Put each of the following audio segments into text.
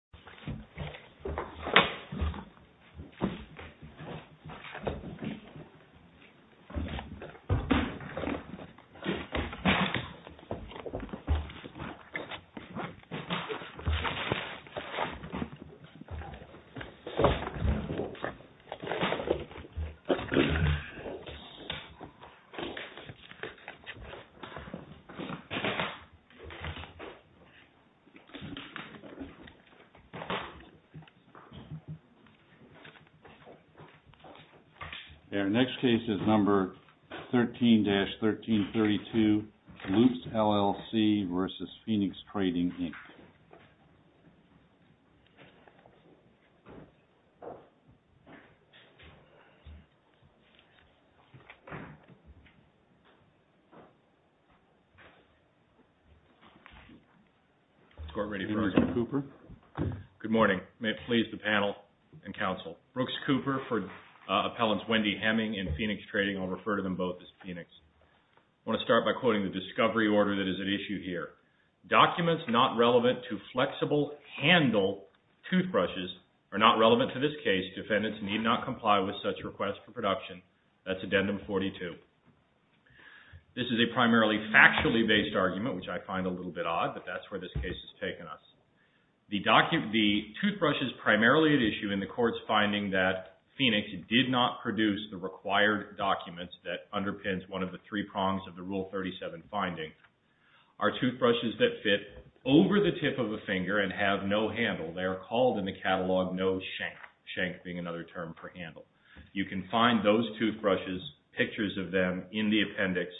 This video is a derivative work of the Cooperative Extension Office. Our next case is number 13-1332, Loops, LLC v. Phoenix Trading, Inc. Good morning. May it please the panel and counsel. Brooks Cooper for Appellants Wendy Hemming and Phoenix Trading. I'll refer to them both as Phoenix. I want to start by quoting the discovery order that is at issue here. This is a primarily factually based argument, which I find a little bit odd, but that's where this case has taken us. The toothbrush is primarily at issue in the court's finding that Phoenix did not produce the required documents that underpins one of the three prongs of the Rule 37 finding. Our toothbrushes that fit over the tip of a finger and have no handle, they are called in the catalog no shank, shank being another term for handle. You can find those toothbrushes, pictures of them, in the appendix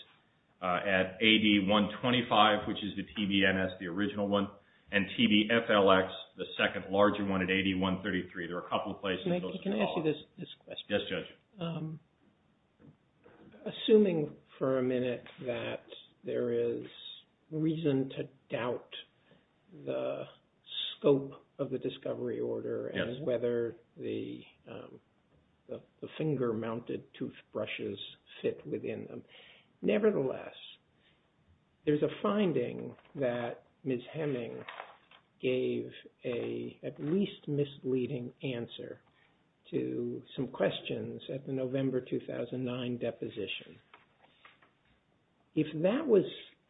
at AD 125, which is the TBNS, the original one, and TBFLX, the second larger one at AD 133. There are a couple of places. Can I ask you this question? Assuming for a minute that there is reason to doubt the scope of the discovery order and whether the finger-mounted toothbrushes fit within them. Nevertheless, there's a finding that Ms. Hemming gave an at least misleading answer. To some questions at the November 2009 deposition. If that was,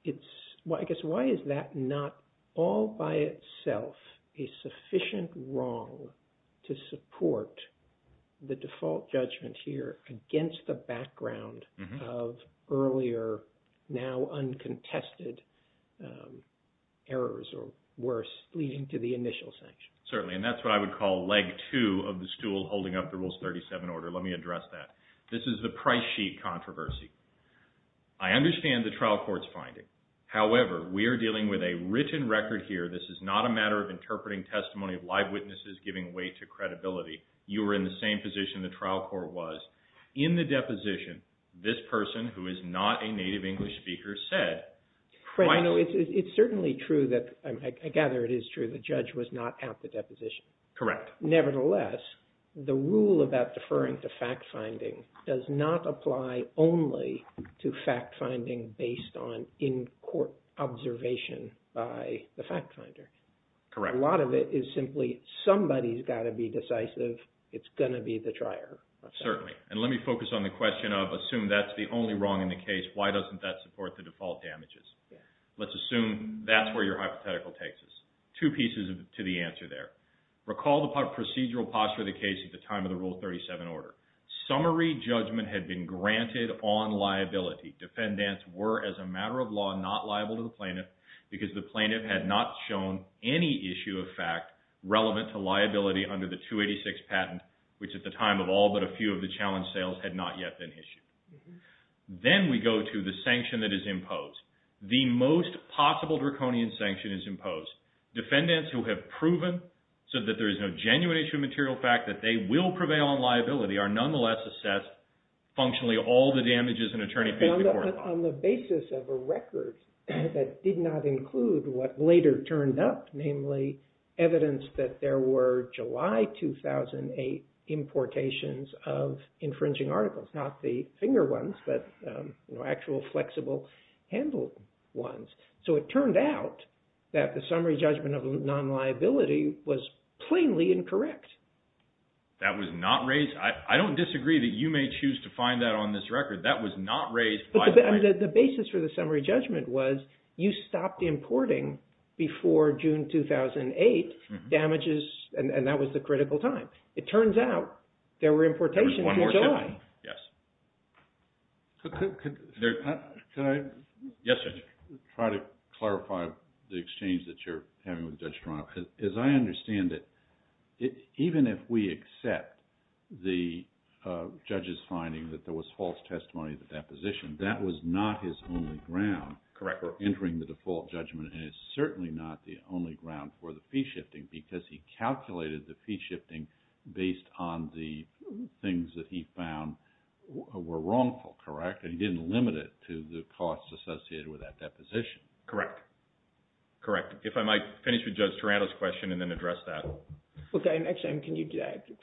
I guess why is that not all by itself a sufficient wrong to support the default judgment here against the background of earlier, now uncontested errors or worse, leading to the initial sanction? Certainly, and that's what I would call leg two of the stool holding up the Rules 37 order. Let me address that. This is the price sheet controversy. I understand the trial court's finding. However, we are dealing with a written record here. This is not a matter of interpreting testimony of live witnesses giving way to credibility. You were in the same position the trial court was. In the deposition, this person, who is not a native English speaker, said... It's certainly true that, I gather it is true, the judge was not at the deposition. Nevertheless, the rule about deferring to fact-finding does not apply only to fact-finding based on in-court observation by the fact-finder. Correct. A lot of it is simply somebody's got to be decisive. It's going to be the trier. Certainly, and let me focus on the question of assume that's the only wrong in the case. Why doesn't that support the default damages? Let's assume that's where your hypothetical takes us. Two pieces to the answer there. Recall the procedural posture of the case at the time of the Rule 37 order. Summary judgment had been granted on liability. Defendants were, as a matter of law, not liable to the plaintiff because the plaintiff had not shown any issue of fact relevant to liability under the 286 patent, which at the time of all but a few of the challenge sales had not yet been issued. Then we go to the sanction that is imposed. The most possible draconian sanction is imposed. Defendants who have proven so that there is no genuine issue of material fact that they will prevail on liability are nonetheless assessed functionally all the damages an attorney pays the court. On the basis of a record that did not include what later turned up, namely evidence that there were July 2008 importations of infringing articles. Not the finger ones, but actual flexible handled ones. So it turned out that the summary judgment of non-liability was plainly incorrect. That was not raised. I don't disagree that you may choose to find that on this record. That was not raised by the plaintiff. The basis for the summary judgment was you stopped importing before June 2008 damages, and that was the critical time. It turns out there were importations in July. Yes. Could I try to clarify the exchange that you're having with Judge Toronto? As I understand it, even if we accept the judge's finding that there was false testimony of the deposition, that was not his only ground. Correct. For entering the default judgment, and it's certainly not the only ground for the fee shifting, because he calculated the fee shifting based on the things that he found were wrongful, correct? And he didn't limit it to the costs associated with that deposition. Correct. Correct. If I might finish with Judge Toronto's question and then address that. Okay. Actually, can you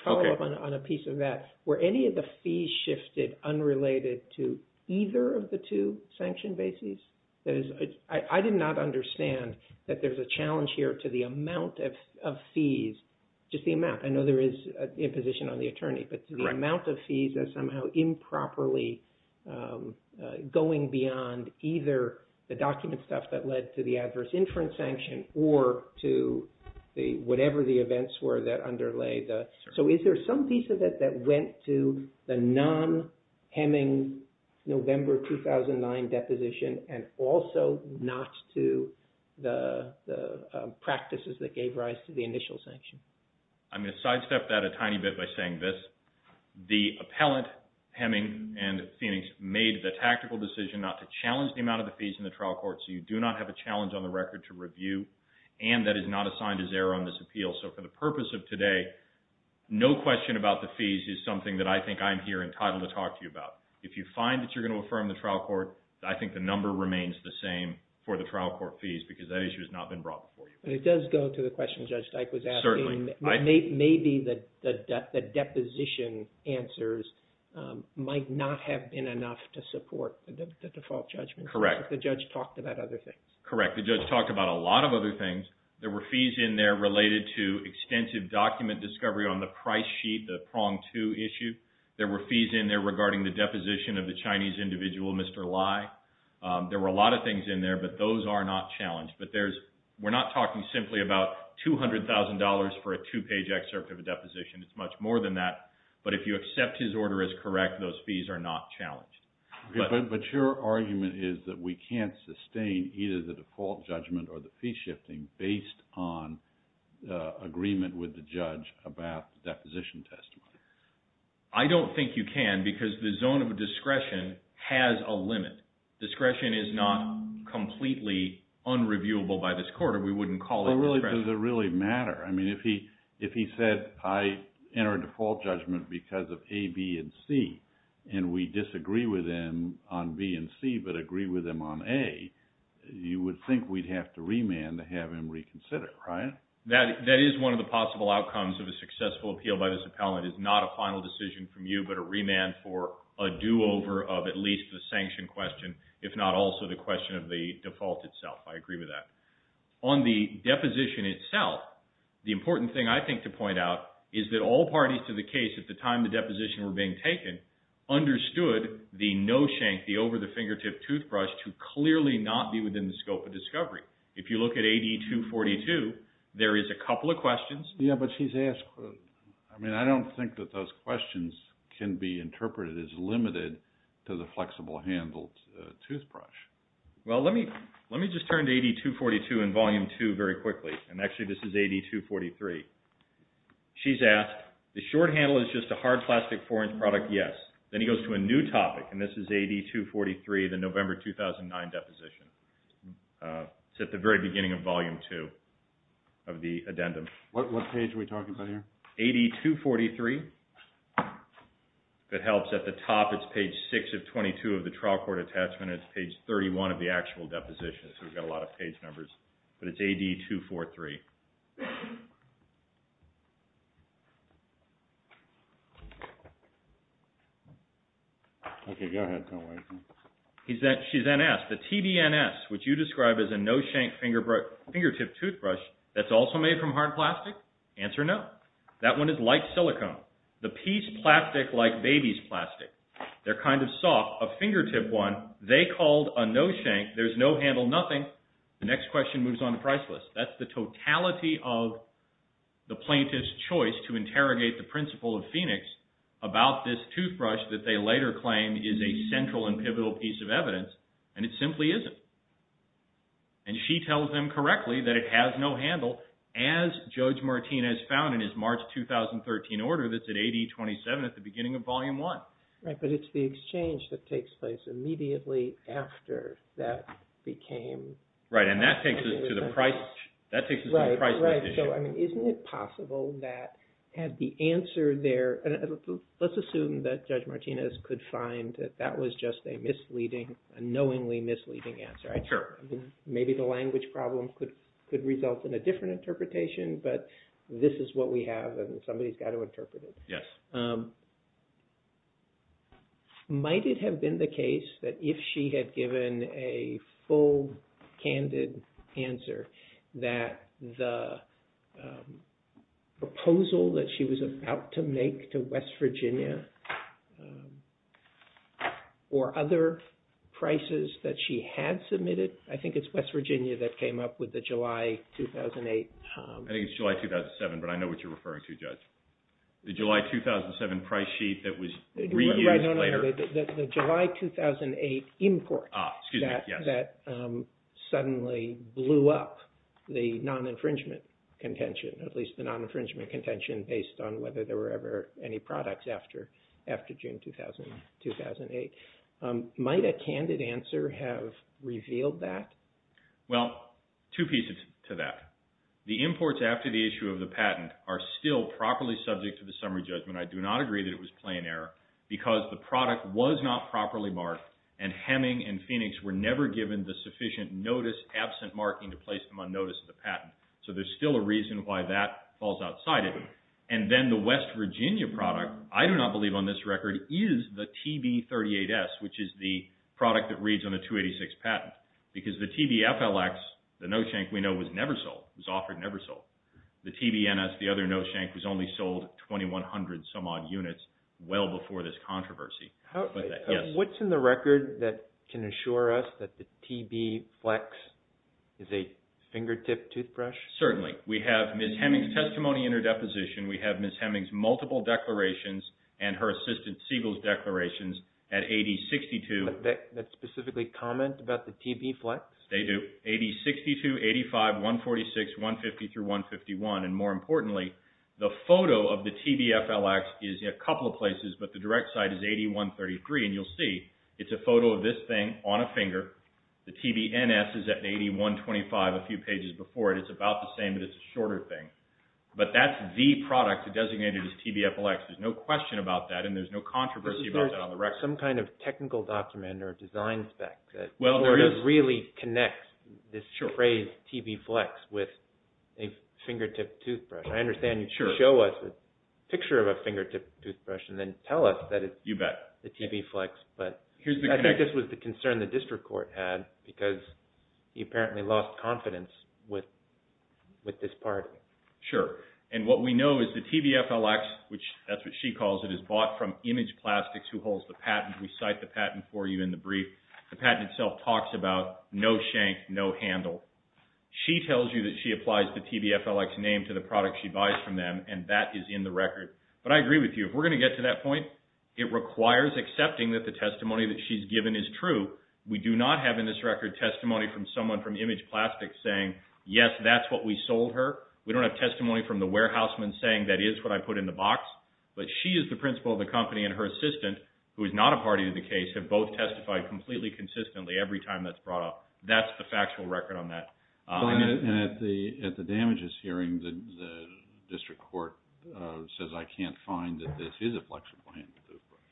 follow up on a piece of that? Were any of the fees shifted unrelated to either of the two sanction bases? I did not understand that there's a challenge here to the amount of fees, just the amount. I know there is imposition on the attorney, but the amount of fees is somehow improperly going beyond either the document stuff that led to the adverse inference sanction or to whatever the events were that underlay the... So is there some piece of it that went to the non-Hemming November 2009 deposition and also not to the practices that gave rise to the initial sanction? I'm going to sidestep that a tiny bit by saying this. The appellant, Hemming and Phoenix, made the tactical decision not to challenge the amount of the fees in the trial court. So you do not have a challenge on the record to review. And that is not assigned as error on this appeal. So for the purpose of today, no question about the fees is something that I think I'm here entitled to talk to you about. If you find that you're going to affirm the trial court, I think the number remains the same for the trial court fees because that issue has not been brought before you. It does go to the question Judge Dyke was asking. Maybe the deposition answers might not have been enough to support the default judgment. Correct. The judge talked about other things. Correct. The judge talked about a lot of other things. There were fees in there related to extensive document discovery on the price sheet, the prong two issue. There were fees in there regarding the deposition of the Chinese individual, Mr. Lai. There were a lot of things in there, but those are not challenged. We're not talking simply about $200,000 for a two-page excerpt of a deposition. It's much more than that. But if you accept his order as correct, those fees are not challenged. But your argument is that we can't sustain either the default judgment or the fee shifting based on agreement with the judge about the deposition testimony. I don't think you can because the zone of discretion has a limit. Discretion is not completely unreviewable by this court, or we wouldn't call it discretion. Does it really matter? I mean, if he said, I enter a default judgment because of A, B, and C, and we disagree with him on B and C, but agree with him on A, you would think we'd have to remand to have him reconsider, right? That is one of the possible outcomes of a successful appeal by this appellant. It's not a final decision from you, but a remand for a do-over of at least the sanction question, if not also the question of the default itself. I agree with that. On the deposition itself, the important thing I think to point out is that all parties to the case at the time the deposition were being taken understood the no-shank, the over-the-fingertip toothbrush to clearly not be within the scope of discovery. If you look at AD-242, there is a couple of questions. Yeah, but she's asked... I mean, I don't think that those questions can be interpreted as limited to the flexible-handled toothbrush. Well, let me just turn to AD-242 in Volume 2 very quickly, and actually this is AD-243. She's asked, the short handle is just a hard plastic 4-inch product, yes. Then he goes to a new topic, and this is AD-243, the November 2009 deposition. It's at the very beginning of Volume 2 of the addendum. What page are we talking about here? AD-243. If it helps, at the top it's page 6 of 22 of the trial court attachment, and it's page 31 of the actual deposition, so we've got a lot of page numbers, but it's AD-243. Okay, go ahead. Don't worry. She's then asked, the TBNS, which you described as a no-shank fingertip toothbrush that's also made from hard plastic? Answer, no. That one is like silicone. The P's plastic like baby's plastic. They're kind of soft. A fingertip one, they called a no-shank. There's no handle, nothing. The next question moves on the price list. That's the totality of the plaintiff's choice to interrogate the principal of Phoenix about this toothbrush that they later claim is a central and pivotal piece of evidence, and it simply isn't. She tells them correctly that it has no handle, as Judge Martinez found in his March 2013 order that's at AD-27 at the beginning of Volume 1. But it's the exchange that takes place immediately after that became... Right, and that takes us to the price list issue. Right, so isn't it possible that had the answer there... Let's assume that Judge Martinez could find that that was just a knowingly misleading answer. Maybe the language problem could result in a different interpretation, but this is what we have, and somebody's got to interpret it. Yes. Might it have been the case that if she had given a full, candid answer that the proposal that she was about to make to West Virginia or other prices that she had submitted... I think it's West Virginia that came up with the July 2008... I think it's July 2007, but I know what you're referring to, Judge. The July 2007 price sheet that was reused later... The July 2008 import that suddenly blew up the non-infringement contention, at least the non-infringement contention based on whether there were ever any products after June 2008. Might a candid answer have revealed that? Well, two pieces to that. The imports after the issue of the patent are still properly subject to the summary judgment. I do not agree that it was plain error because the product was not properly marked and Hemming and Phoenix were never given the sufficient notice absent marking to place them on notice of the patent. So there's still a reason why that falls outside it. And then the West Virginia product, I do not believe on this record, is the TB38S, which is the product that reads on the 286 patent because the TBFLX, the no-shank we know was never sold, was offered never sold. The TBNS, the other no-shank, was only sold 2,100 some odd units well before this controversy. What's in the record that can assure us that the TBFlex is a fingertip toothbrush? Certainly. We have Ms. Hemming's testimony in her deposition. We have Ms. Hemming's multiple declarations and her assistant Siegel's declarations at 8062. Does that specifically comment about the TBFlex? They do. 8062, 85, 146, 150 through 151. And more importantly, the photo of the TBFLX is a couple of places, but the direct site is 8133. And you'll see it's a photo of this thing on a finger. The TBNS is at 8125, a few pages before it. It's about the same, but it's a shorter thing. But that's the product designated as TBFLX. There's no question about that, and there's no controversy about that on the record. Is there some kind of technical document or design spec that really connects this phrase TBFlex with a fingertip toothbrush? I understand you show us a picture of a fingertip toothbrush and then tell us that it's the TBFlex. But I think this was the concern the district court had because he apparently lost confidence with this part. Sure. And what we know is the TBFLX, which that's what she calls it, is bought from Image Plastics, who holds the patent. We cite the patent for you in the brief. The patent itself talks about no shank, no handle. She tells you that she applies the TBFLX name to the product she buys from them, and that is in the record. But I agree with you. If we're going to get to that point, it requires accepting that the testimony that she's given is true. We do not have in this record testimony from someone from Image Plastics saying, yes, that's what we sold her. We don't have testimony from the warehouseman saying, that is what I put in the box. But she is the principal of the company, and her assistant, who is not a party to the case, have both testified completely consistently every time that's brought up. That's the factual record on that. And at the damages hearing, the district court says, I can't find that this is a flexible handle.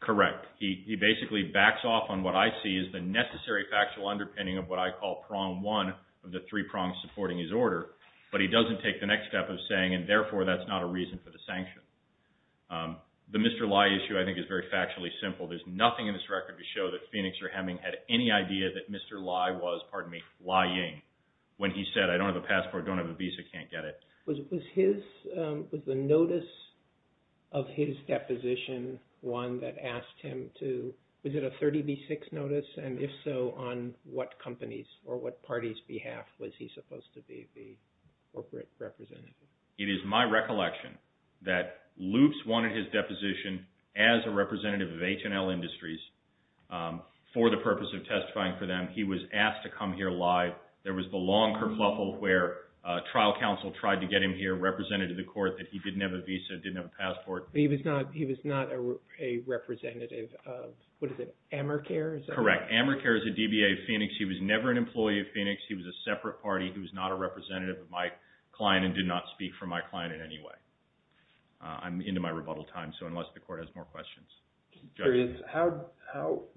Correct. He basically backs off on what I see as the necessary factual underpinning of what I call prong one of the three prongs supporting his order. But he doesn't take the next step of saying, and therefore, that's not a reason for the sanction. The Mr. Lai issue, I think, is very factually simple. There's nothing in this record to show that Phoenix or Hemming had any idea that Mr. Lai was, pardon me, Lai Ying when he said, I don't have a passport, don't have a visa, can't get it. Was the notice of his deposition one that asked him to, was it a 30B6 notice? And if so, on what companies or what parties' behalf was he supposed to be the corporate representative? It is my recollection that Loops wanted his deposition as a representative of H&L Industries for the purpose of testifying for them. He was asked to come here live. There was the long kerfuffle where trial counsel tried to get him here, represented to the court, that he didn't have a visa, didn't have a passport. He was not a representative of, what is it, Amercare? Correct. Amercare is a DBA of Phoenix. He was never an employee of Phoenix. He was a separate party. He was not a representative of my client and did not speak for my client in any way. I'm into my rebuttal time, so unless the court has more questions.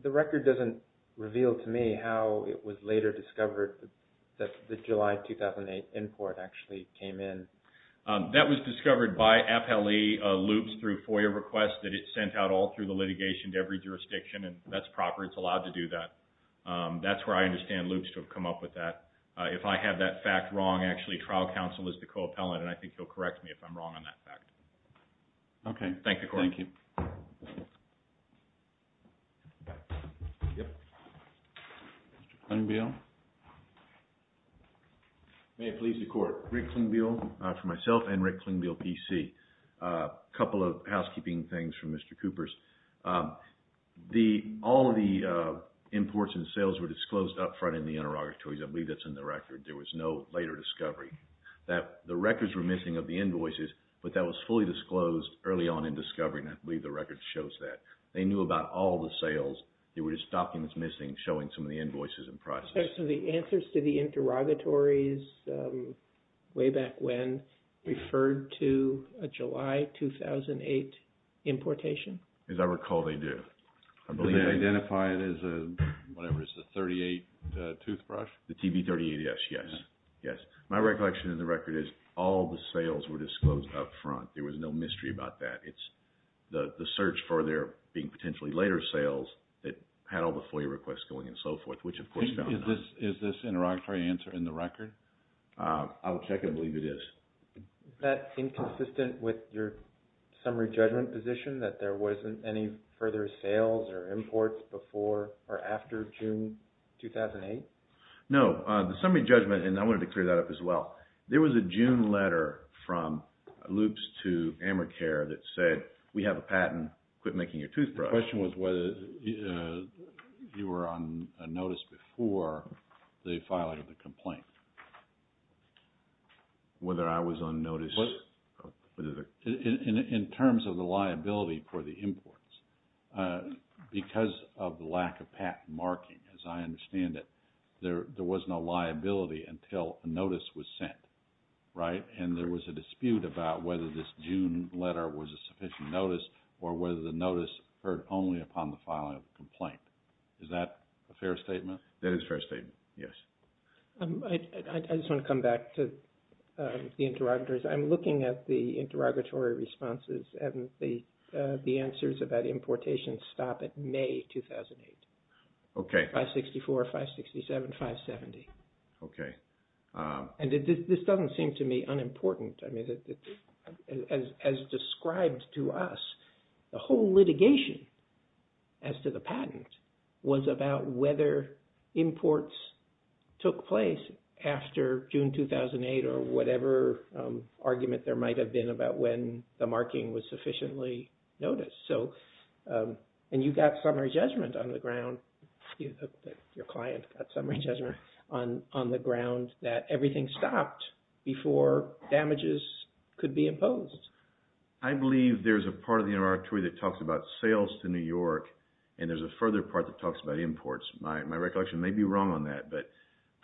The record doesn't reveal to me how it was later discovered that the July 2008 import actually came in. That was discovered by Appellee Loops through FOIA requests that it sent out all through the litigation to every jurisdiction, and that's proper. It's allowed to do that. That's where I understand Loops to have come up with that. If I have that fact wrong, actually, trial counsel is the co-appellant, and I think he'll correct me if I'm wrong on that fact. Okay. Thank you. Mr. Klingbeil. May it please the court. Rick Klingbeil for myself and Rick Klingbeil, PC. A couple of housekeeping things from Mr. Coopers. All of the imports and sales were disclosed up front in the interrogatories. I believe that's in the record. There was no later discovery. The records were missing of the invoices, but that was fully disclosed early on in discovery, and I believe the record shows that. They knew about all the sales. There were just documents missing showing some of the invoices and prices. Okay. So the answers to the interrogatories way back when referred to a July 2008 importation? As I recall, they do. Did they identify it as the 38 toothbrush? The TB38, yes. Yes. My recollection in the record is all the sales were disclosed up front. There was no mystery about that. It's the search for there being potentially later sales that had all the FOIA requests going and so forth, which of course found none. Is this interrogatory answer in the record? I'll check and believe it is. Is that inconsistent with your summary judgment position that there wasn't any further sales or imports before or after June 2008? No. The summary judgment, and I wanted to clear that up as well. There was a June letter from Loops to Amercare that said, we have a patent. Quit making your toothbrush. The question was whether you were on notice before they filed the complaint. Whether I was on notice? In terms of the liability for the imports, because of the lack of patent marking, as I understand it, there was no liability until a notice was sent, right? And there was a dispute about whether this June letter was a sufficient notice or whether the notice occurred only upon the filing of the complaint. Is that a fair statement? That is a fair statement, yes. I just want to come back to the interrogatories. I'm looking at the interrogatory responses and the answers about importation stop at May 2008, 564, 567, 570. And this doesn't seem to me unimportant. As described to us, the whole litigation as to the patent was about whether imports took place after June 2008 or whatever argument there might have been about when the marking was sufficiently noticed. And you got summary judgment on the ground, your client got summary judgment on the ground that everything stopped before damages could be imposed. I believe there's a part of the interrogatory that talks about sales to New York and there's a further part that talks about imports. My recollection may be wrong on that, but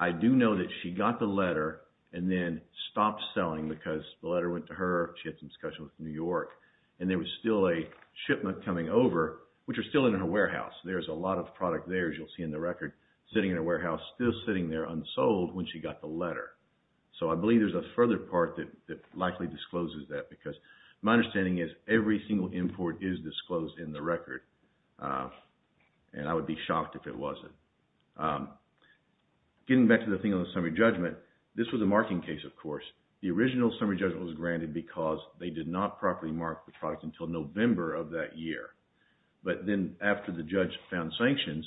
I do know that she got the letter and then stopped selling because the letter went to her. She had some discussion with New York. And there was still a shipment coming over, which was still in her warehouse. There's a lot of product there, as you'll see in the record, sitting in her warehouse, still sitting there unsold when she got the letter. So I believe there's a further part that likely discloses that because my understanding is every single import is disclosed in the record. And I would be shocked if it wasn't. Getting back to the thing on the summary judgment, this was a marking case, of course. The original summary judgment was granted because they did not properly mark the product until November of that year. But then after the judge found sanctions,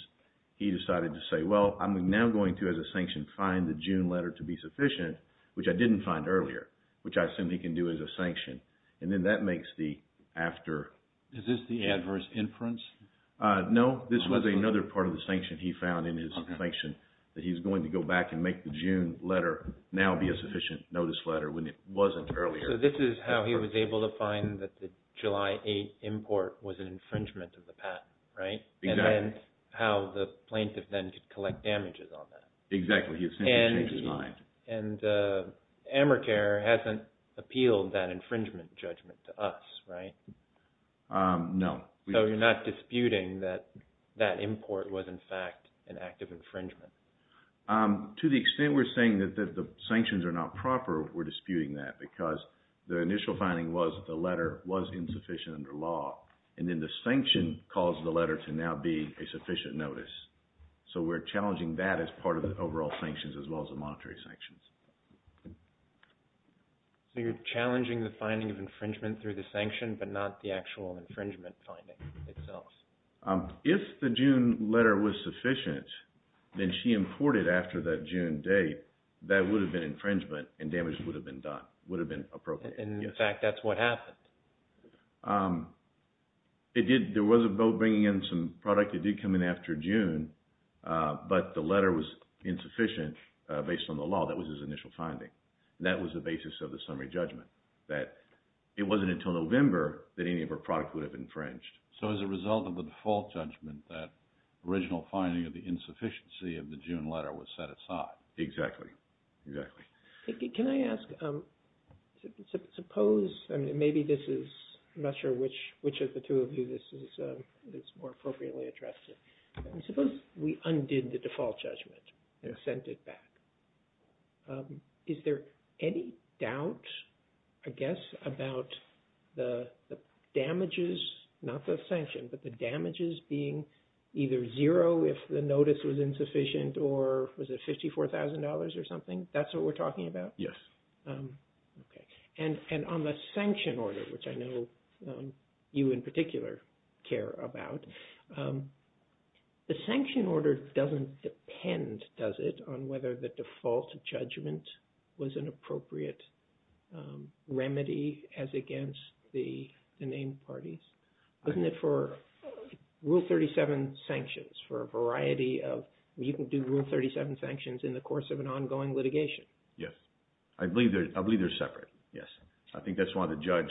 he decided to say, well, I'm now going to, as a sanction, find the June letter to be sufficient, which I didn't find earlier, which I assume he can do as a sanction. And then that makes the after... Is this the adverse inference? No. This was another part of the sanction he found in his sanction, that he's going to go back and make the June letter now be a sufficient notice letter when it wasn't earlier. So this is how he was able to find that the July 8 import was an infringement of the patent, right? Exactly. And then how the plaintiff then could collect damages on that. Exactly. He essentially changed his mind. And Americare hasn't appealed that infringement judgment to us, right? No. So you're not disputing that that import was in fact an act of infringement? To the extent we're saying that the sanctions are not proper, we're disputing that because the initial finding was that the letter was insufficient under law. And then the sanction caused the letter to now be a sufficient notice. So we're challenging that as part of the overall sanctions as well as the monetary sanctions. So you're challenging the finding of infringement through the sanction, but not the actual infringement finding itself. If the June letter was sufficient, then she imported after that June date, that would have been infringement and damage would have been done, would have been appropriate. And in fact, that's what happened. There was a vote bringing in some product that did come in after June, but the letter was insufficient based on the law. That was his initial finding. And that was the basis of the summary judgment, that it wasn't until November that any of her product would have infringed. So as a result of the default judgment, that original finding of the insufficiency of the June letter was set aside. Exactly. Exactly. Can I ask, suppose, I mean, maybe this is, I'm not sure which of the two of you, this is more appropriately addressed. Suppose we undid the default judgment and sent it back. Is there any doubt, I guess, about the damages, not the sanction, but the damages being either zero if the notice was insufficient or was it $54,000 or something? That's what we're talking about? Yes. Okay. And on the sanction order, which I know you in particular care about, the sanction order doesn't depend, does it, on whether the default judgment was an appropriate remedy as against the named parties? Wasn't it for Rule 37 sanctions for a variety of, you can do Rule 37 sanctions in the course of an ongoing litigation. Yes. I believe they're separate. Yes. I think that's why the judge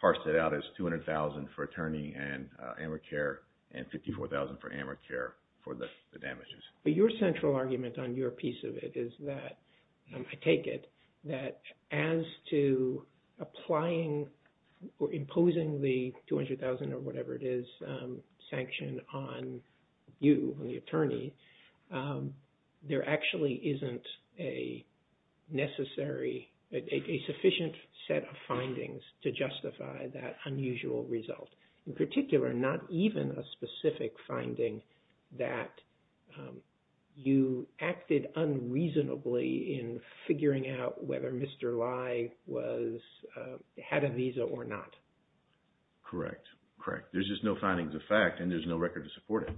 parsed it out as $200,000 for attorney and AmeriCare and $54,000 for AmeriCare for the damages. But your central argument on your piece of it is that, I take it, that as to applying or imposing the $200,000 or whatever it is sanction on you, on the attorney, there actually isn't a necessary, a sufficient set of findings to justify that unusual result. In particular, not even a specific finding that you acted unreasonably in figuring out whether Mr. Lai had a visa or not. Correct. Correct. There's just no findings of fact and there's no record to support it.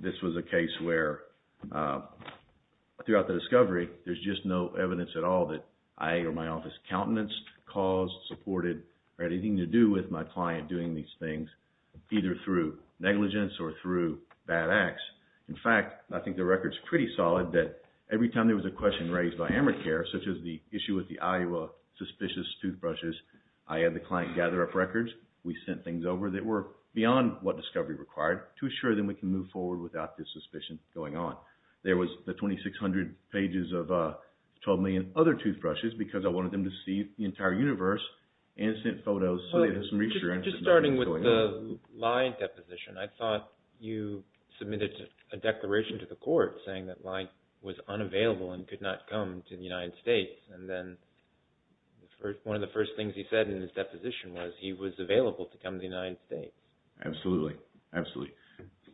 This was a case where throughout the discovery, there's just no evidence at all that I or my office countenanced, caused, supported, or had anything to do with my client doing these things, either through negligence or through bad acts. In fact, I think the record's pretty solid that every time there was a question raised by AmeriCare, such as the issue with the Iowa suspicious toothbrushes, I had the client gather up records. We sent things over that were beyond what discovery required to assure them we can move forward without this suspicion going on. There was the 2,600 pages of 12 million other toothbrushes because I wanted them to see the entire universe and sent photos. Just starting with the Lai deposition, I thought you submitted a declaration to the court saying that Lai was unavailable and could not come to the United States. And then one of the first things he said in his deposition was he was available to come to the United States. Absolutely. Absolutely.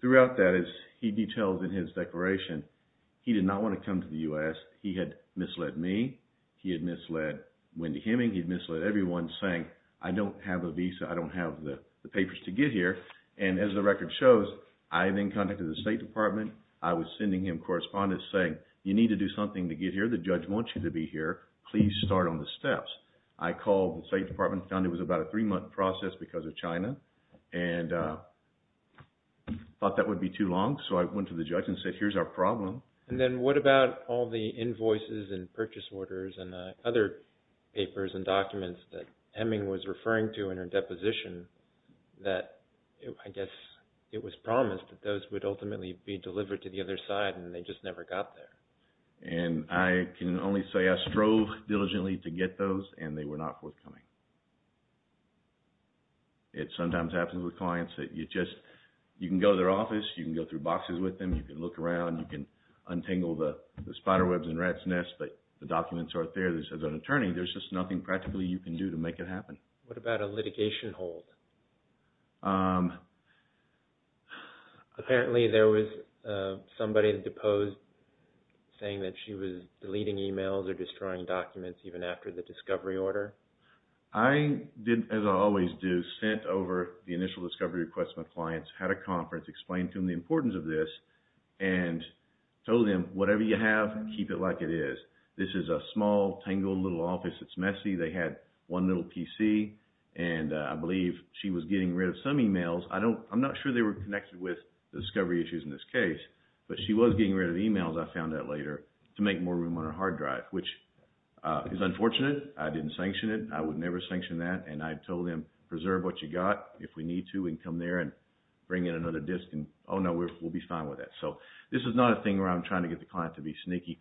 Throughout that, as he details in his declaration, he did not want to come to the U.S. He had misled me, he had misled Wendy Hemming, he had misled everyone saying, I don't have a visa, I don't have the papers to get here. And as the record shows, I am in contact with the State Department. I was sending him correspondence saying, you need to do something to get here. The judge wants you to be here. Please start on the steps. I called the State Department and found it was about a three-month process because of China and thought that would be too long. So I went to the judge and said, here's our problem. And then what about all the invoices and purchase orders and other papers and documents that Hemming was referring to in her deposition that I guess it was promised that those would ultimately be delivered to the other side and they just never got there? And I can only say I strove diligently to get those and they were not forthcoming. It sometimes happens with clients that you just, you can go to their office, you can go through boxes with them, you can look around, you can untangle the spiderwebs in rats' nests, but the documents aren't there. As an attorney, there's just nothing practically you can do to make it happen. What about a litigation hold? Apparently there was somebody deposed saying that she was deleting emails or destroying documents even after the discovery order. I did, as I always do, sent over the initial discovery request from a client, had a conference, explained to them the importance of this, and told them, whatever you have, keep it like it is. This is a small, tangled little office that's messy. They had one little PC and I believe she was getting rid of some emails. I'm not sure they were connected with the discovery issues in this case, but she was getting rid of emails, I found out later, to make more room on her hard drive, which is unfortunate. I didn't sanction it. I would never sanction that. I told them, preserve what you got. If we need to, we can come there and bring in another disk. Oh no, we'll be fine with that. This is not a thing where I'm trying to get the client to be sneaky.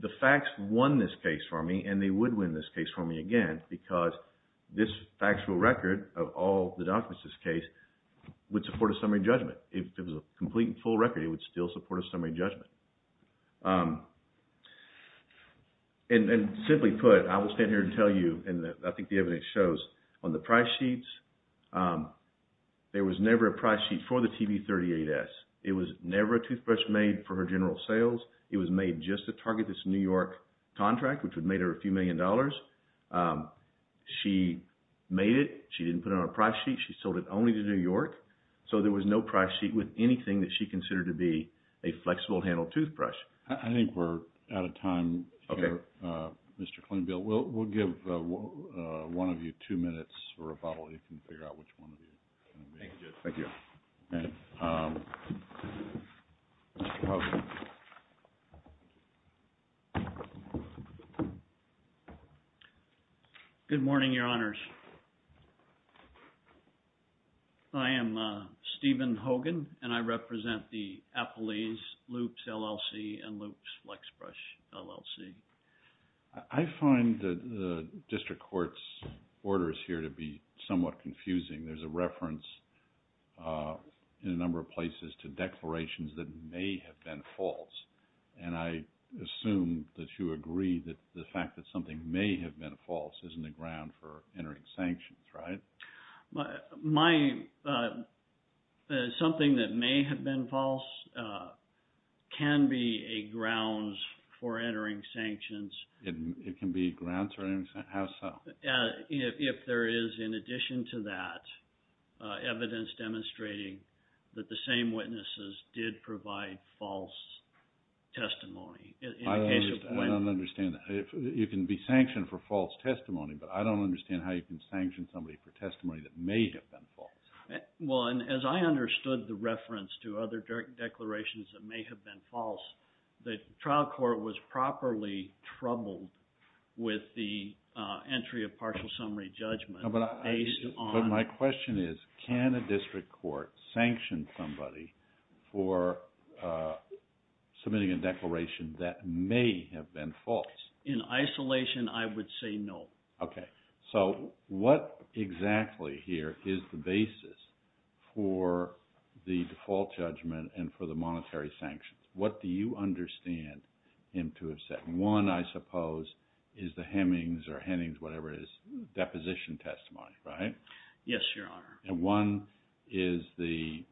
The facts won this case for me, and they would win this case for me again, because this factual record of all the documents in this case would support a summary judgment. If it was a complete and full record, it would still support a summary judgment. Simply put, I will stand here and tell you, and I think the evidence shows, on the price sheets, there was never a price sheet for the TB38S. It was never a toothbrush made for her general sales. It was made just to target this New York contract, which would have made her a few million dollars. She made it. She didn't put it on a price sheet. She sold it only to New York. So there was no price sheet with anything that she considered to be a flexible-handled toothbrush. I think we're out of time here, Mr. Klingbeil. We'll give one of you two minutes or a bottle, and you can figure out which one of you. Thank you, Judge. Thank you. Good morning, Your Honors. I am Stephen Hogan, and I represent the Appellee's Loops LLC and Loops Flexbrush LLC. I find the district court's orders here to be somewhat confusing. There's a reference in a number of places to declarations that may have been false, and I assume that you agree that the fact that something may have been false isn't a ground for entering sanctions, right? Something that may have been false can be a grounds for entering sanctions. It can be a grounds for entering sanctions? How so? If there is, in addition to that, evidence demonstrating that the same witnesses did provide false testimony. I don't understand that. You can be sanctioned for false testimony, but I don't understand how you can sanction somebody for testimony that may have been false. As I understood the reference to other declarations that may have been false, the trial court was properly troubled with the entry of partial summary judgment based on… But my question is, can a district court sanction somebody for submitting a declaration that may have been false? In isolation, I would say no. Okay. So what exactly here is the basis for the default judgment and for the monetary sanctions? What do you understand him to have said? One, I suppose, is the Hemings or Hennings, whatever it is, deposition testimony, right? Yes, Your Honor. And one is the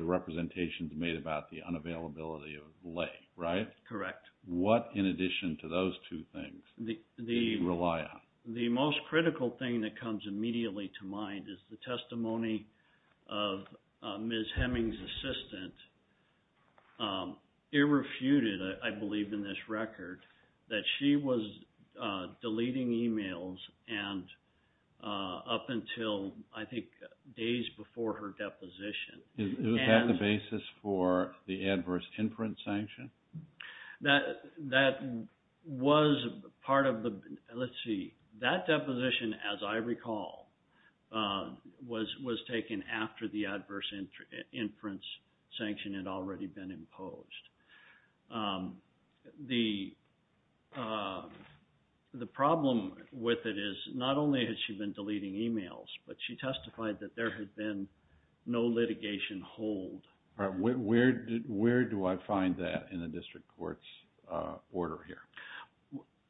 representations made about the unavailability of lay, right? Correct. What, in addition to those two things, do you rely on? The most critical thing that comes immediately to mind is the testimony of Ms. Hemings' assistant, irrefuted, I believe, in this record, that she was deleting e-mails up until, I think, days before her deposition. Is that the basis for the adverse inference sanction? That was part of the – let's see. That deposition, as I recall, was taken after the adverse inference sanction had already been imposed. The problem with it is not only has she been deleting e-mails, but she testified that there had been no litigation hold. Where do I find that in the district court's order here?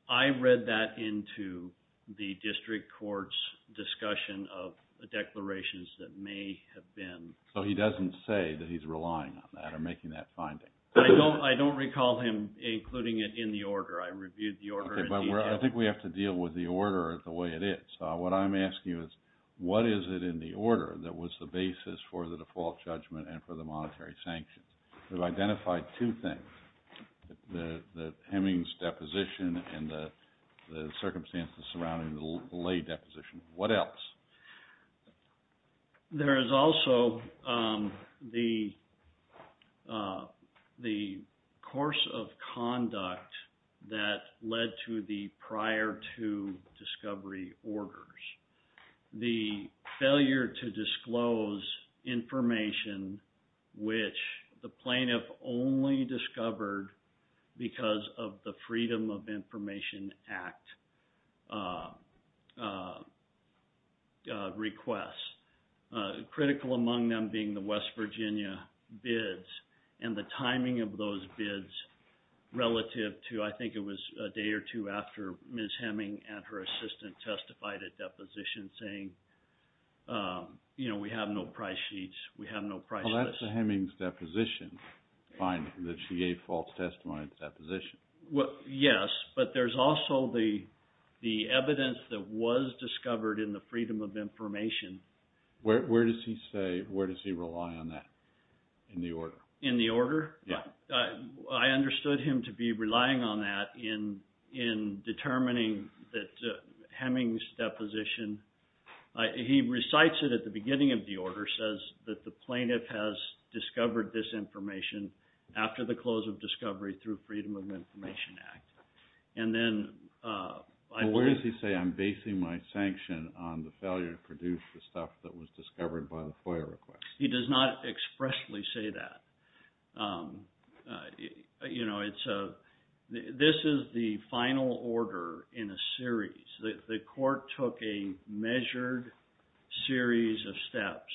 I read that into the district court's discussion of declarations that may have been – So he doesn't say that he's relying on that or making that finding? I don't recall him including it in the order. I reviewed the order in detail. Okay, but I think we have to deal with the order the way it is. What I'm asking you is what is it in the order that was the basis for the default judgment and for the monetary sanctions? We've identified two things, Hemings' deposition and the circumstances surrounding the lay deposition. What else? There is also the course of conduct that led to the prior two discovery orders. The failure to disclose information which the plaintiff only discovered because of the Freedom of Information Act request. Critical among them being the West Virginia bids and the timing of those bids relative to – I think it was a day or two after Ms. Heming and her assistant testified at deposition saying we have no price sheets, we have no price lists. Well, that's the Hemings' deposition finding that she gave false testimony at the deposition. Yes, but there's also the evidence that was discovered in the Freedom of Information. Where does he say – where does he rely on that in the order? In the order? Yeah. I understood him to be relying on that in determining that Hemings' deposition – He recites it at the beginning of the order, says that the plaintiff has discovered this information after the close of discovery through Freedom of Information Act. And then – Where does he say I'm basing my sanction on the failure to produce the stuff that was discovered by the FOIA request? He does not expressly say that. This is the final order in a series. The court took a measured series of steps.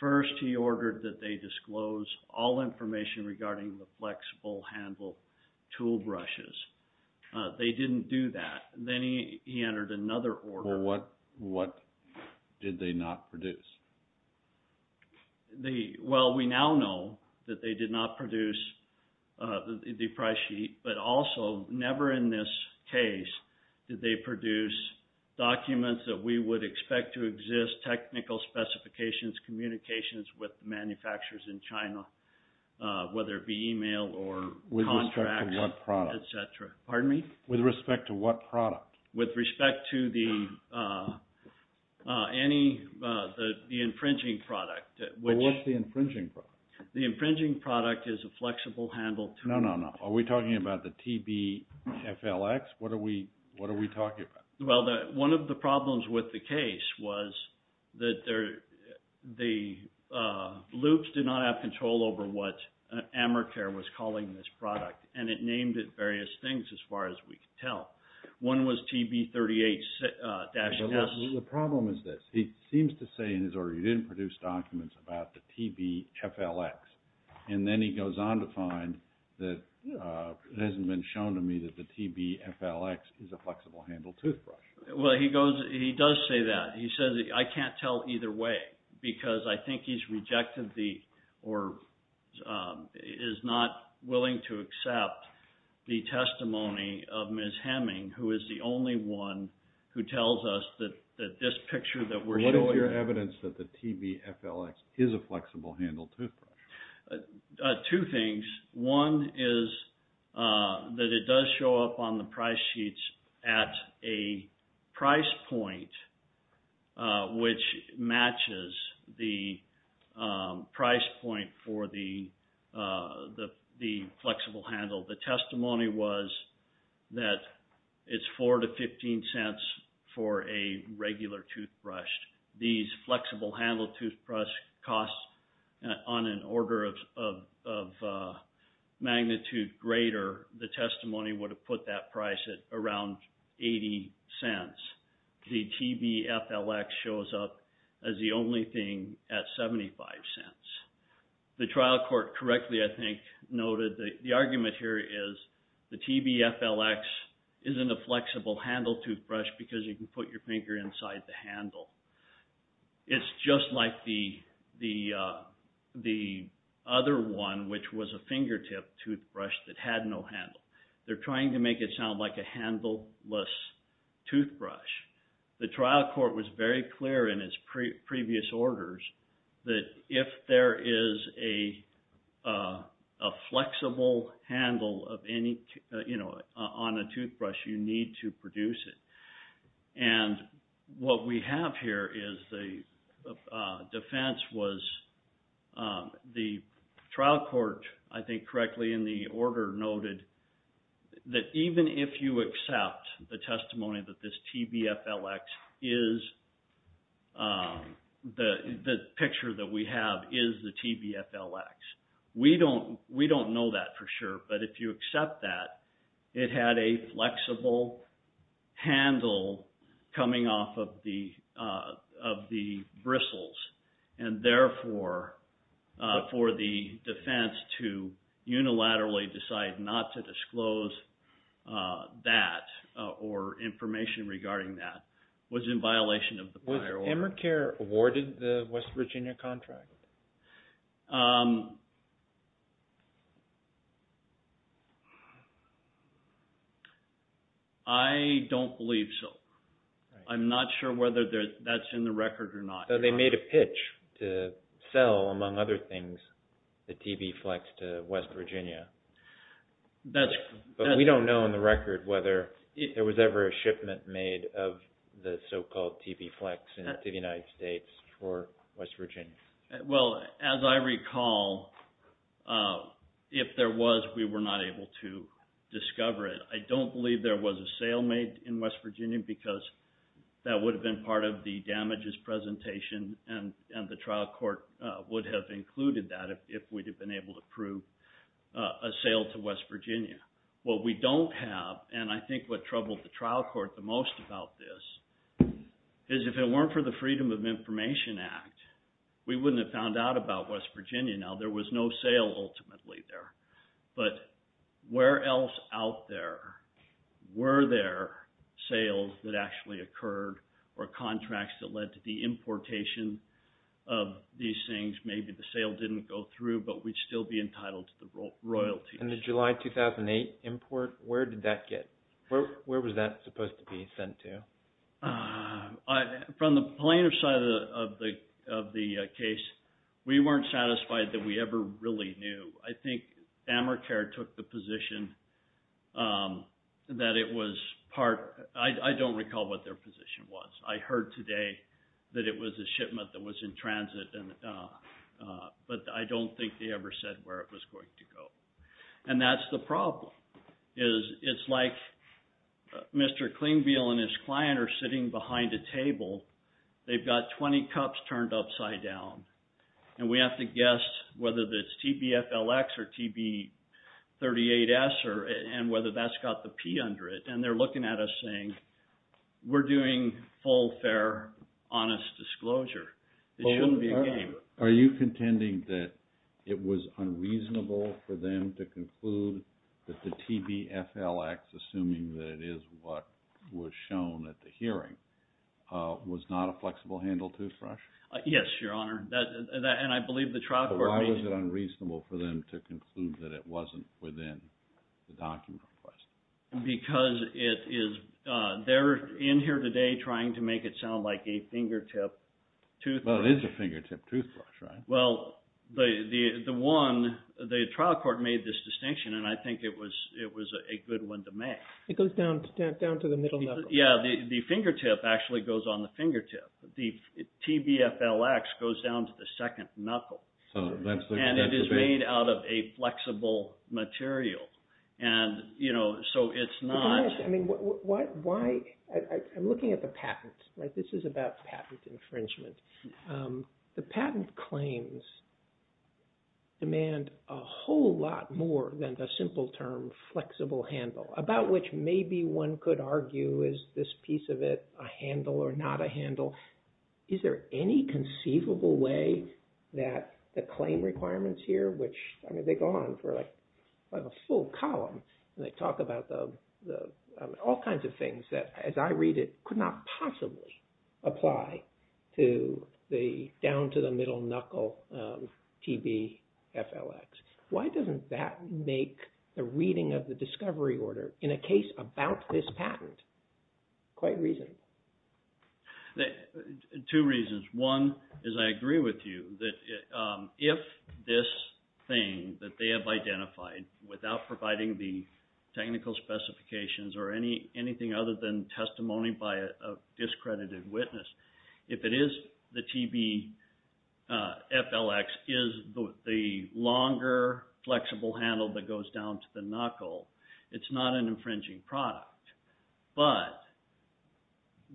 First, he ordered that they disclose all information regarding the flexible handle tool brushes. They didn't do that. Then he entered another order. Well, what did they not produce? Well, we now know that they did not produce the price sheet. But also, never in this case did they produce documents that we would expect to exist, technical specifications, communications with manufacturers in China, whether it be email or contracts, etc. With respect to what product? Pardon me? With respect to what product? With respect to the – any – the infringing product. Well, what's the infringing product? The infringing product is a flexible handle tool. No, no, no. Are we talking about the TBFLX? What are we talking about? Well, one of the problems with the case was that the loops did not have control over what Amercare was calling this product. And it named it various things, as far as we could tell. One was TB38-S. The problem is this. He seems to say in his order he didn't produce documents about the TBFLX. And then he goes on to find that it hasn't been shown to me that the TBFLX is a flexible handle toothbrush. Well, he goes – he does say that. He says, I can't tell either way because I think he's rejected the – or is not willing to accept the testimony of Ms. Hemming, who is the only one who tells us that this picture that we're showing – What is your evidence that the TBFLX is a flexible handle toothbrush? Two things. One is that it does show up on the price sheets at a price point which matches the price point for the flexible handle. The testimony was that it's $0.04 to $0.15 for a regular toothbrush. These flexible handle toothbrush costs on an order of magnitude greater, the testimony would have put that price at around $0.80. The TBFLX shows up as the only thing at $0.75. The trial court correctly, I think, noted that the argument here is the TBFLX isn't a flexible handle toothbrush because you can put your finger inside the handle. It's just like the other one, which was a fingertip toothbrush that had no handle. They're trying to make it sound like a handle-less toothbrush. The trial court was very clear in its previous orders that if there is a flexible handle on a toothbrush, you need to produce it. What we have here is the defense was the trial court, I think correctly in the order noted, that even if you accept the testimony that this TBFLX is, the picture that we have is the TBFLX. We don't know that for sure, but if you accept that, it had a flexible handle coming off of the bristles. Therefore, for the defense to unilaterally decide not to disclose that or information regarding that was in violation of the prior order. Was Emercare awarded the West Virginia contract? I don't believe so. I'm not sure whether that's in the record or not. They made a pitch to sell, among other things, the TBFLX to West Virginia. We don't know in the record whether there was ever a shipment made of the so-called TBFLX to the United States for West Virginia. As I recall, if there was, we were not able to discover it. I don't believe there was a sale made in West Virginia because that would have been part of the damages presentation, and the trial court would have included that if we'd have been able to prove a sale to West Virginia. What we don't have, and I think what troubled the trial court the most about this, is if it weren't for the Freedom of Information Act, we wouldn't have found out about West Virginia. There was no sale ultimately there. But where else out there were there sales that actually occurred or contracts that led to the importation of these things? Maybe the sale didn't go through, but we'd still be entitled to the royalties. In the July 2008 import, where did that get? Where was that supposed to be sent to? From the plaintiff's side of the case, we weren't satisfied that we ever really knew. I think Amercare took the position that it was part – I don't recall what their position was. I heard today that it was a shipment that was in transit, but I don't think they ever said where it was going to go. And that's the problem. It's like Mr. Klingbeil and his client are sitting behind a table. They've got 20 cups turned upside down. And we have to guess whether it's TBFLX or TB38S and whether that's got the P under it. And they're looking at us saying, we're doing full, fair, honest disclosure. It shouldn't be a game. Are you contending that it was unreasonable for them to conclude that the TBFLX, assuming that it is what was shown at the hearing, was not a flexible-handle toothbrush? Yes, Your Honor. And I believe the trial court – Why was it unreasonable for them to conclude that it wasn't within the document request? Because it is – they're in here today trying to make it sound like a fingertip toothbrush. Well, it is a fingertip toothbrush, right? Well, the one – the trial court made this distinction, and I think it was a good one to make. It goes down to the middle knuckle. Yeah, the fingertip actually goes on the fingertip. The TBFLX goes down to the second knuckle. And it is made out of a flexible material. And so it's not – I'm looking at the patent. This is about patent infringement. The patent claims demand a whole lot more than the simple term flexible-handle, about which maybe one could argue, is this piece of it a handle or not a handle? Is there any conceivable way that the claim requirements here, which – I have a full column, and they talk about all kinds of things that, as I read it, could not possibly apply to the down to the middle knuckle TBFLX. Why doesn't that make the reading of the discovery order in a case about this patent quite reasonable? Two reasons. One is I agree with you that if this thing that they have identified, without providing the technical specifications or anything other than testimony by a discredited witness, if it is the TBFLX is the longer flexible handle that goes down to the knuckle, it's not an infringing product. But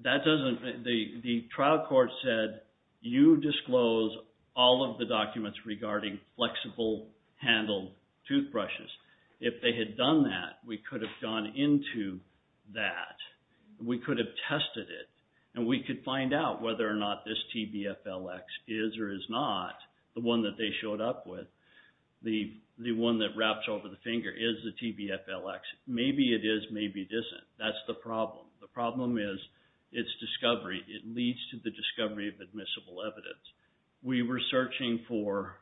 that doesn't – the trial court said, you disclose all of the documents regarding flexible-handle toothbrushes. If they had done that, we could have gone into that. We could have tested it, and we could find out whether or not this TBFLX is or is not the one that they showed up with, the one that wraps over the finger is the TBFLX. Maybe it is, maybe it isn't. That's the problem. The problem is its discovery. It leads to the discovery of admissible evidence. We were searching for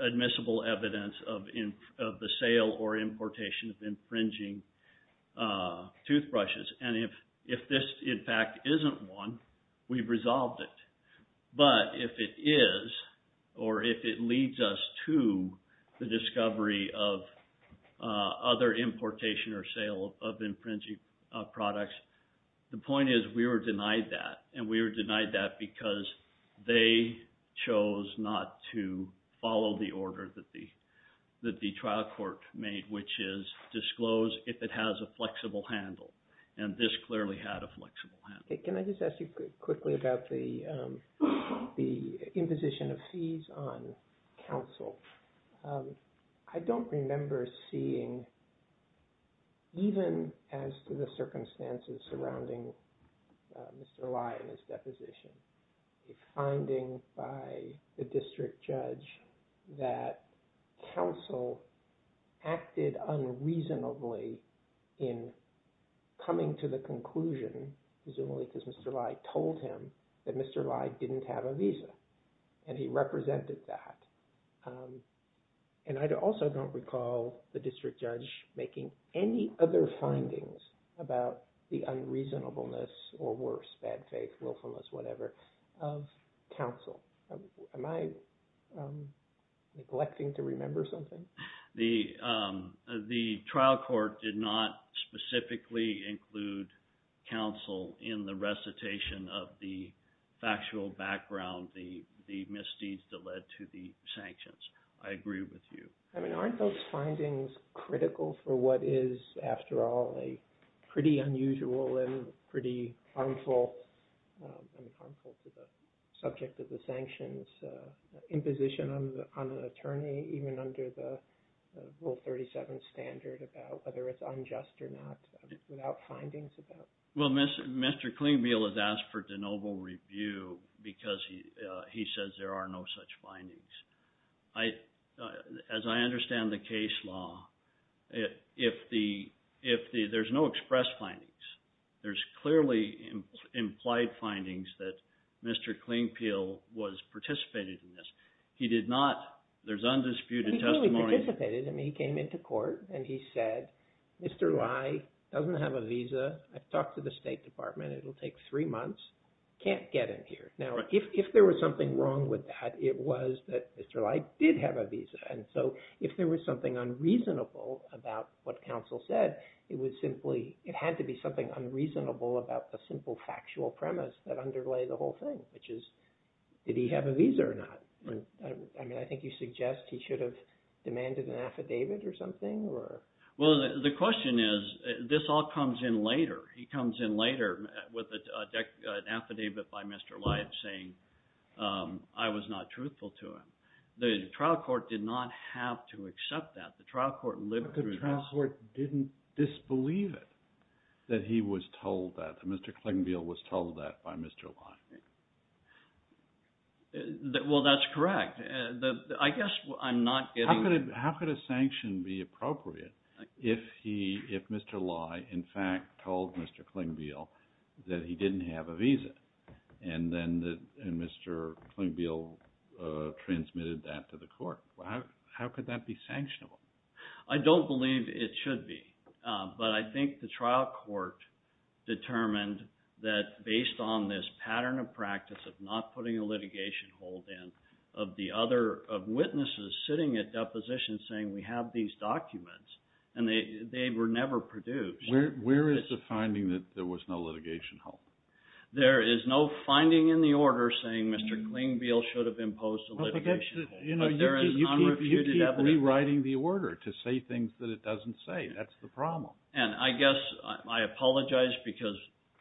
admissible evidence of the sale or importation of infringing toothbrushes. And if this, in fact, isn't one, we've resolved it. But if it is, or if it leads us to the discovery of other importation or sale of infringing products, the point is we were denied that. And we were denied that because they chose not to follow the order that the trial court made, which is disclose if it has a flexible handle. And this clearly had a flexible handle. Can I just ask you quickly about the imposition of fees on counsel? I don't remember seeing, even as to the circumstances surrounding Mr. Lai and his deposition, a finding by the district judge that counsel acted unreasonably in coming to the conclusion, presumably because Mr. Lai told him, that Mr. Lai didn't have a visa. And he represented that. And I also don't recall the district judge making any other findings about the unreasonableness or worse, bad faith, willfulness, whatever, of counsel. Am I neglecting to remember something? The trial court did not specifically include counsel in the recitation of the factual background, the misdeeds that led to the sanctions. I agree with you. I mean, aren't those findings critical for what is, after all, a pretty unusual and pretty harmful subject of the sanctions imposition on an attorney, even under the Rule 37 standard about whether it's unjust or not, without findings about it? Well, Mr. Klingbeil has asked for de novo review because he says there are no such findings. As I understand the case law, there's no express findings. There's clearly implied findings that Mr. Klingbeil was participating in this. He did not, there's undisputed testimony. He clearly participated. I mean, he came into court and he said, Mr. Lai doesn't have a visa. I've talked to the State Department. It'll take three months. Can't get in here. Now, if there was something wrong with that, it was that Mr. Lai did have a visa, and so if there was something unreasonable about what counsel said, it would simply, it had to be something unreasonable about the simple factual premise that underlay the whole thing, which is, did he have a visa or not? I mean, I think you suggest he should have demanded an affidavit or something? Well, the question is, this all comes in later. He comes in later with an affidavit by Mr. Lai saying, I was not truthful to him. The trial court did not have to accept that. The trial court lived through this. But the trial court didn't disbelieve it, that he was told that, that Mr. Klingbeil was told that by Mr. Lai. Well, that's correct. I guess I'm not getting. How could a sanction be appropriate if Mr. Lai, in fact, told Mr. Klingbeil that he didn't have a visa, and Mr. Klingbeil transmitted that to the court? How could that be sanctionable? I don't believe it should be. But I think the trial court determined that based on this pattern of practice of not putting a litigation hold in, of witnesses sitting at depositions saying we have these documents, and they were never produced. Where is the finding that there was no litigation hold? There is no finding in the order saying Mr. Klingbeil should have imposed a litigation hold. But there is unrefuted evidence. You keep rewriting the order to say things that it doesn't say. That's the problem. And I guess I apologize because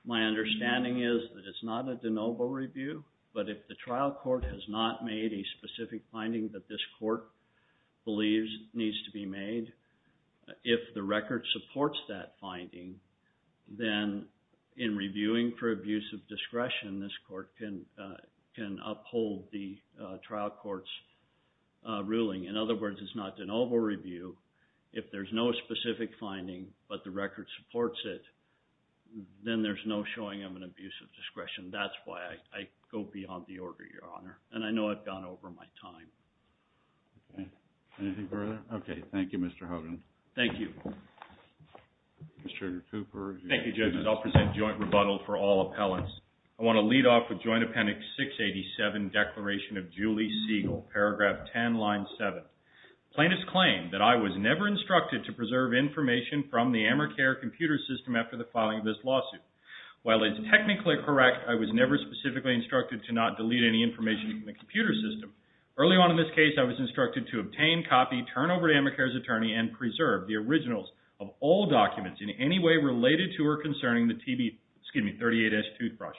my understanding is that it's not a de novo review. But if the trial court has not made a specific finding that this court believes needs to be made, if the record supports that finding, then in reviewing for abuse of discretion, this court can uphold the trial court's ruling. In other words, it's not de novo review. If there's no specific finding but the record supports it, then there's no showing of an abuse of discretion. That's why I go beyond the order, Your Honor. And I know I've gone over my time. Anything further? Okay. Thank you, Mr. Hogan. Thank you. Mr. Cooper. Thank you, judges. I'll present joint rebuttal for all appellants. I want to lead off with Joint Appendix 687, Declaration of Julie Siegel, paragraph 10, line 7. Plaintiffs claim that I was never instructed to preserve information from the AmerCare computer system after the filing of this lawsuit. While it's technically correct I was never specifically instructed to not delete any information from the computer system, early on in this case I was instructed to obtain, copy, turn over to AmerCare's attorney, and preserve the originals of all documents in any way related to or concerning the TB, excuse me, 38S toothbrush.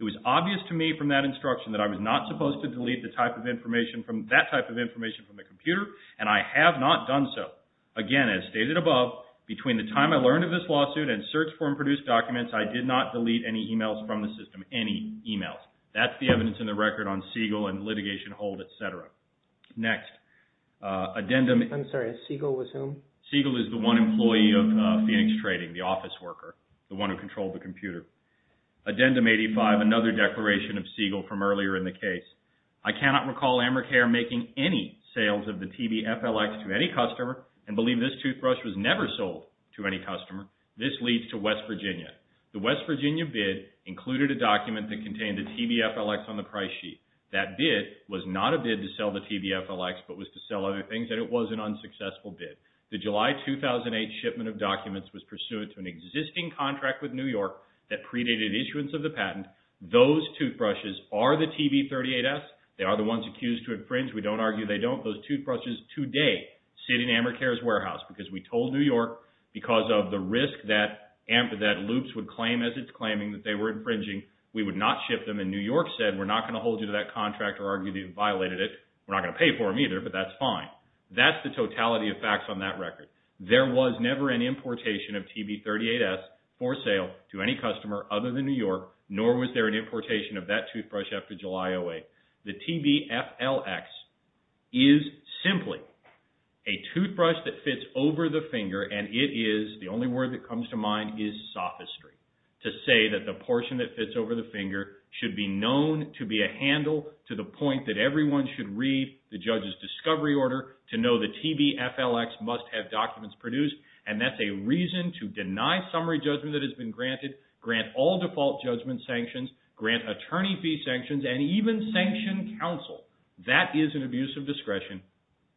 It was obvious to me from that instruction that I was not supposed to delete that type of information from the computer, and I have not done so. Again, as stated above, between the time I learned of this lawsuit and search form produced documents, I did not delete any e-mails from the system, any e-mails. That's the evidence in the record on Siegel and litigation hold, et cetera. Next. I'm sorry. Siegel was whom? Siegel is the one employee of Phoenix Trading, the office worker, the one who controlled the computer. Addendum 85, another declaration of Siegel from earlier in the case. I cannot recall AmerCare making any sales of the TBFLX to any customer and believe this toothbrush was never sold to any customer. This leads to West Virginia. The West Virginia bid included a document that contained the TBFLX on the price sheet. That bid was not a bid to sell the TBFLX but was to sell other things, and it was an unsuccessful bid. The July 2008 shipment of documents was pursuant to an existing contract with New York that predated issuance of the patent. Those toothbrushes are the TB38S. They are the ones accused to infringe. We don't argue they don't. Those toothbrushes today sit in AmerCare's warehouse because we told New York, because of the risk that loops would claim as it's claiming that they were infringing, we would not ship them, and New York said we're not going to hold you to that contract or argue that you violated it. We're not going to pay for them either, but that's fine. That's the totality of facts on that record. There was never an importation of TB38S for sale to any customer other than New York, nor was there an importation of that toothbrush after July 2008. The TBFLX is simply a toothbrush that fits over the finger, and it is, the only word that comes to mind, is sophistry, to say that the portion that fits over the finger should be known to be a handle to the point that everyone should read the judge's discovery order to know the TBFLX must have documents produced, and that's a reason to deny summary judgment that has been granted, grant all default judgment sanctions, grant attorney fee sanctions, and even sanction counsel. That is an abuse of discretion.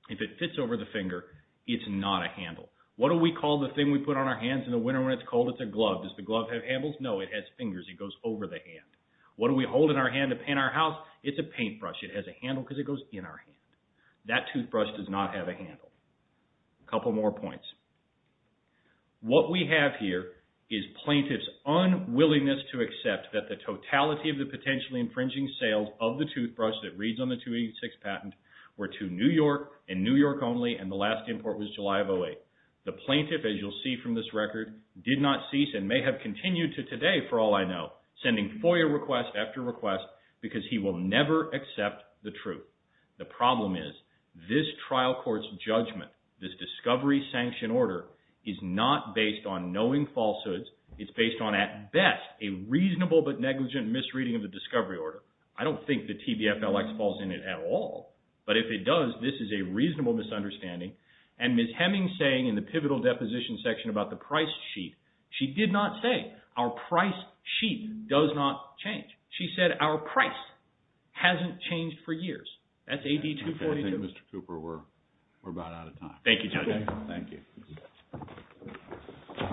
If it fits over the finger, it's not a handle. What do we call the thing we put on our hands in the winter when it's cold? It's a glove. Does the glove have handles? No, it has fingers. It goes over the hand. What do we hold in our hand to paint our house? It's a paintbrush. It has a handle because it goes in our hand. That toothbrush does not have a handle. A couple more points. What we have here is plaintiff's unwillingness to accept that the totality of the potentially infringing sales of the toothbrush that reads on the 286 patent were to New York and New York only, and the last import was July of 08. The plaintiff, as you'll see from this record, did not cease and may have continued to today, for all I know, sending FOIA request after request because he will never accept the truth. The problem is this trial court's judgment, this discovery sanction order, is not based on knowing falsehoods. It's based on, at best, a reasonable but negligent misreading of the discovery order. I don't think the TBFLX falls in it at all, but if it does, this is a reasonable misunderstanding. And Ms. Hemmings saying in the pivotal deposition section about the price sheet, she did not say our price sheet does not change. She said our price hasn't changed for years. That's AD 242. I think, Mr. Cooper, we're about out of time. Thank you, Judge. Thank you.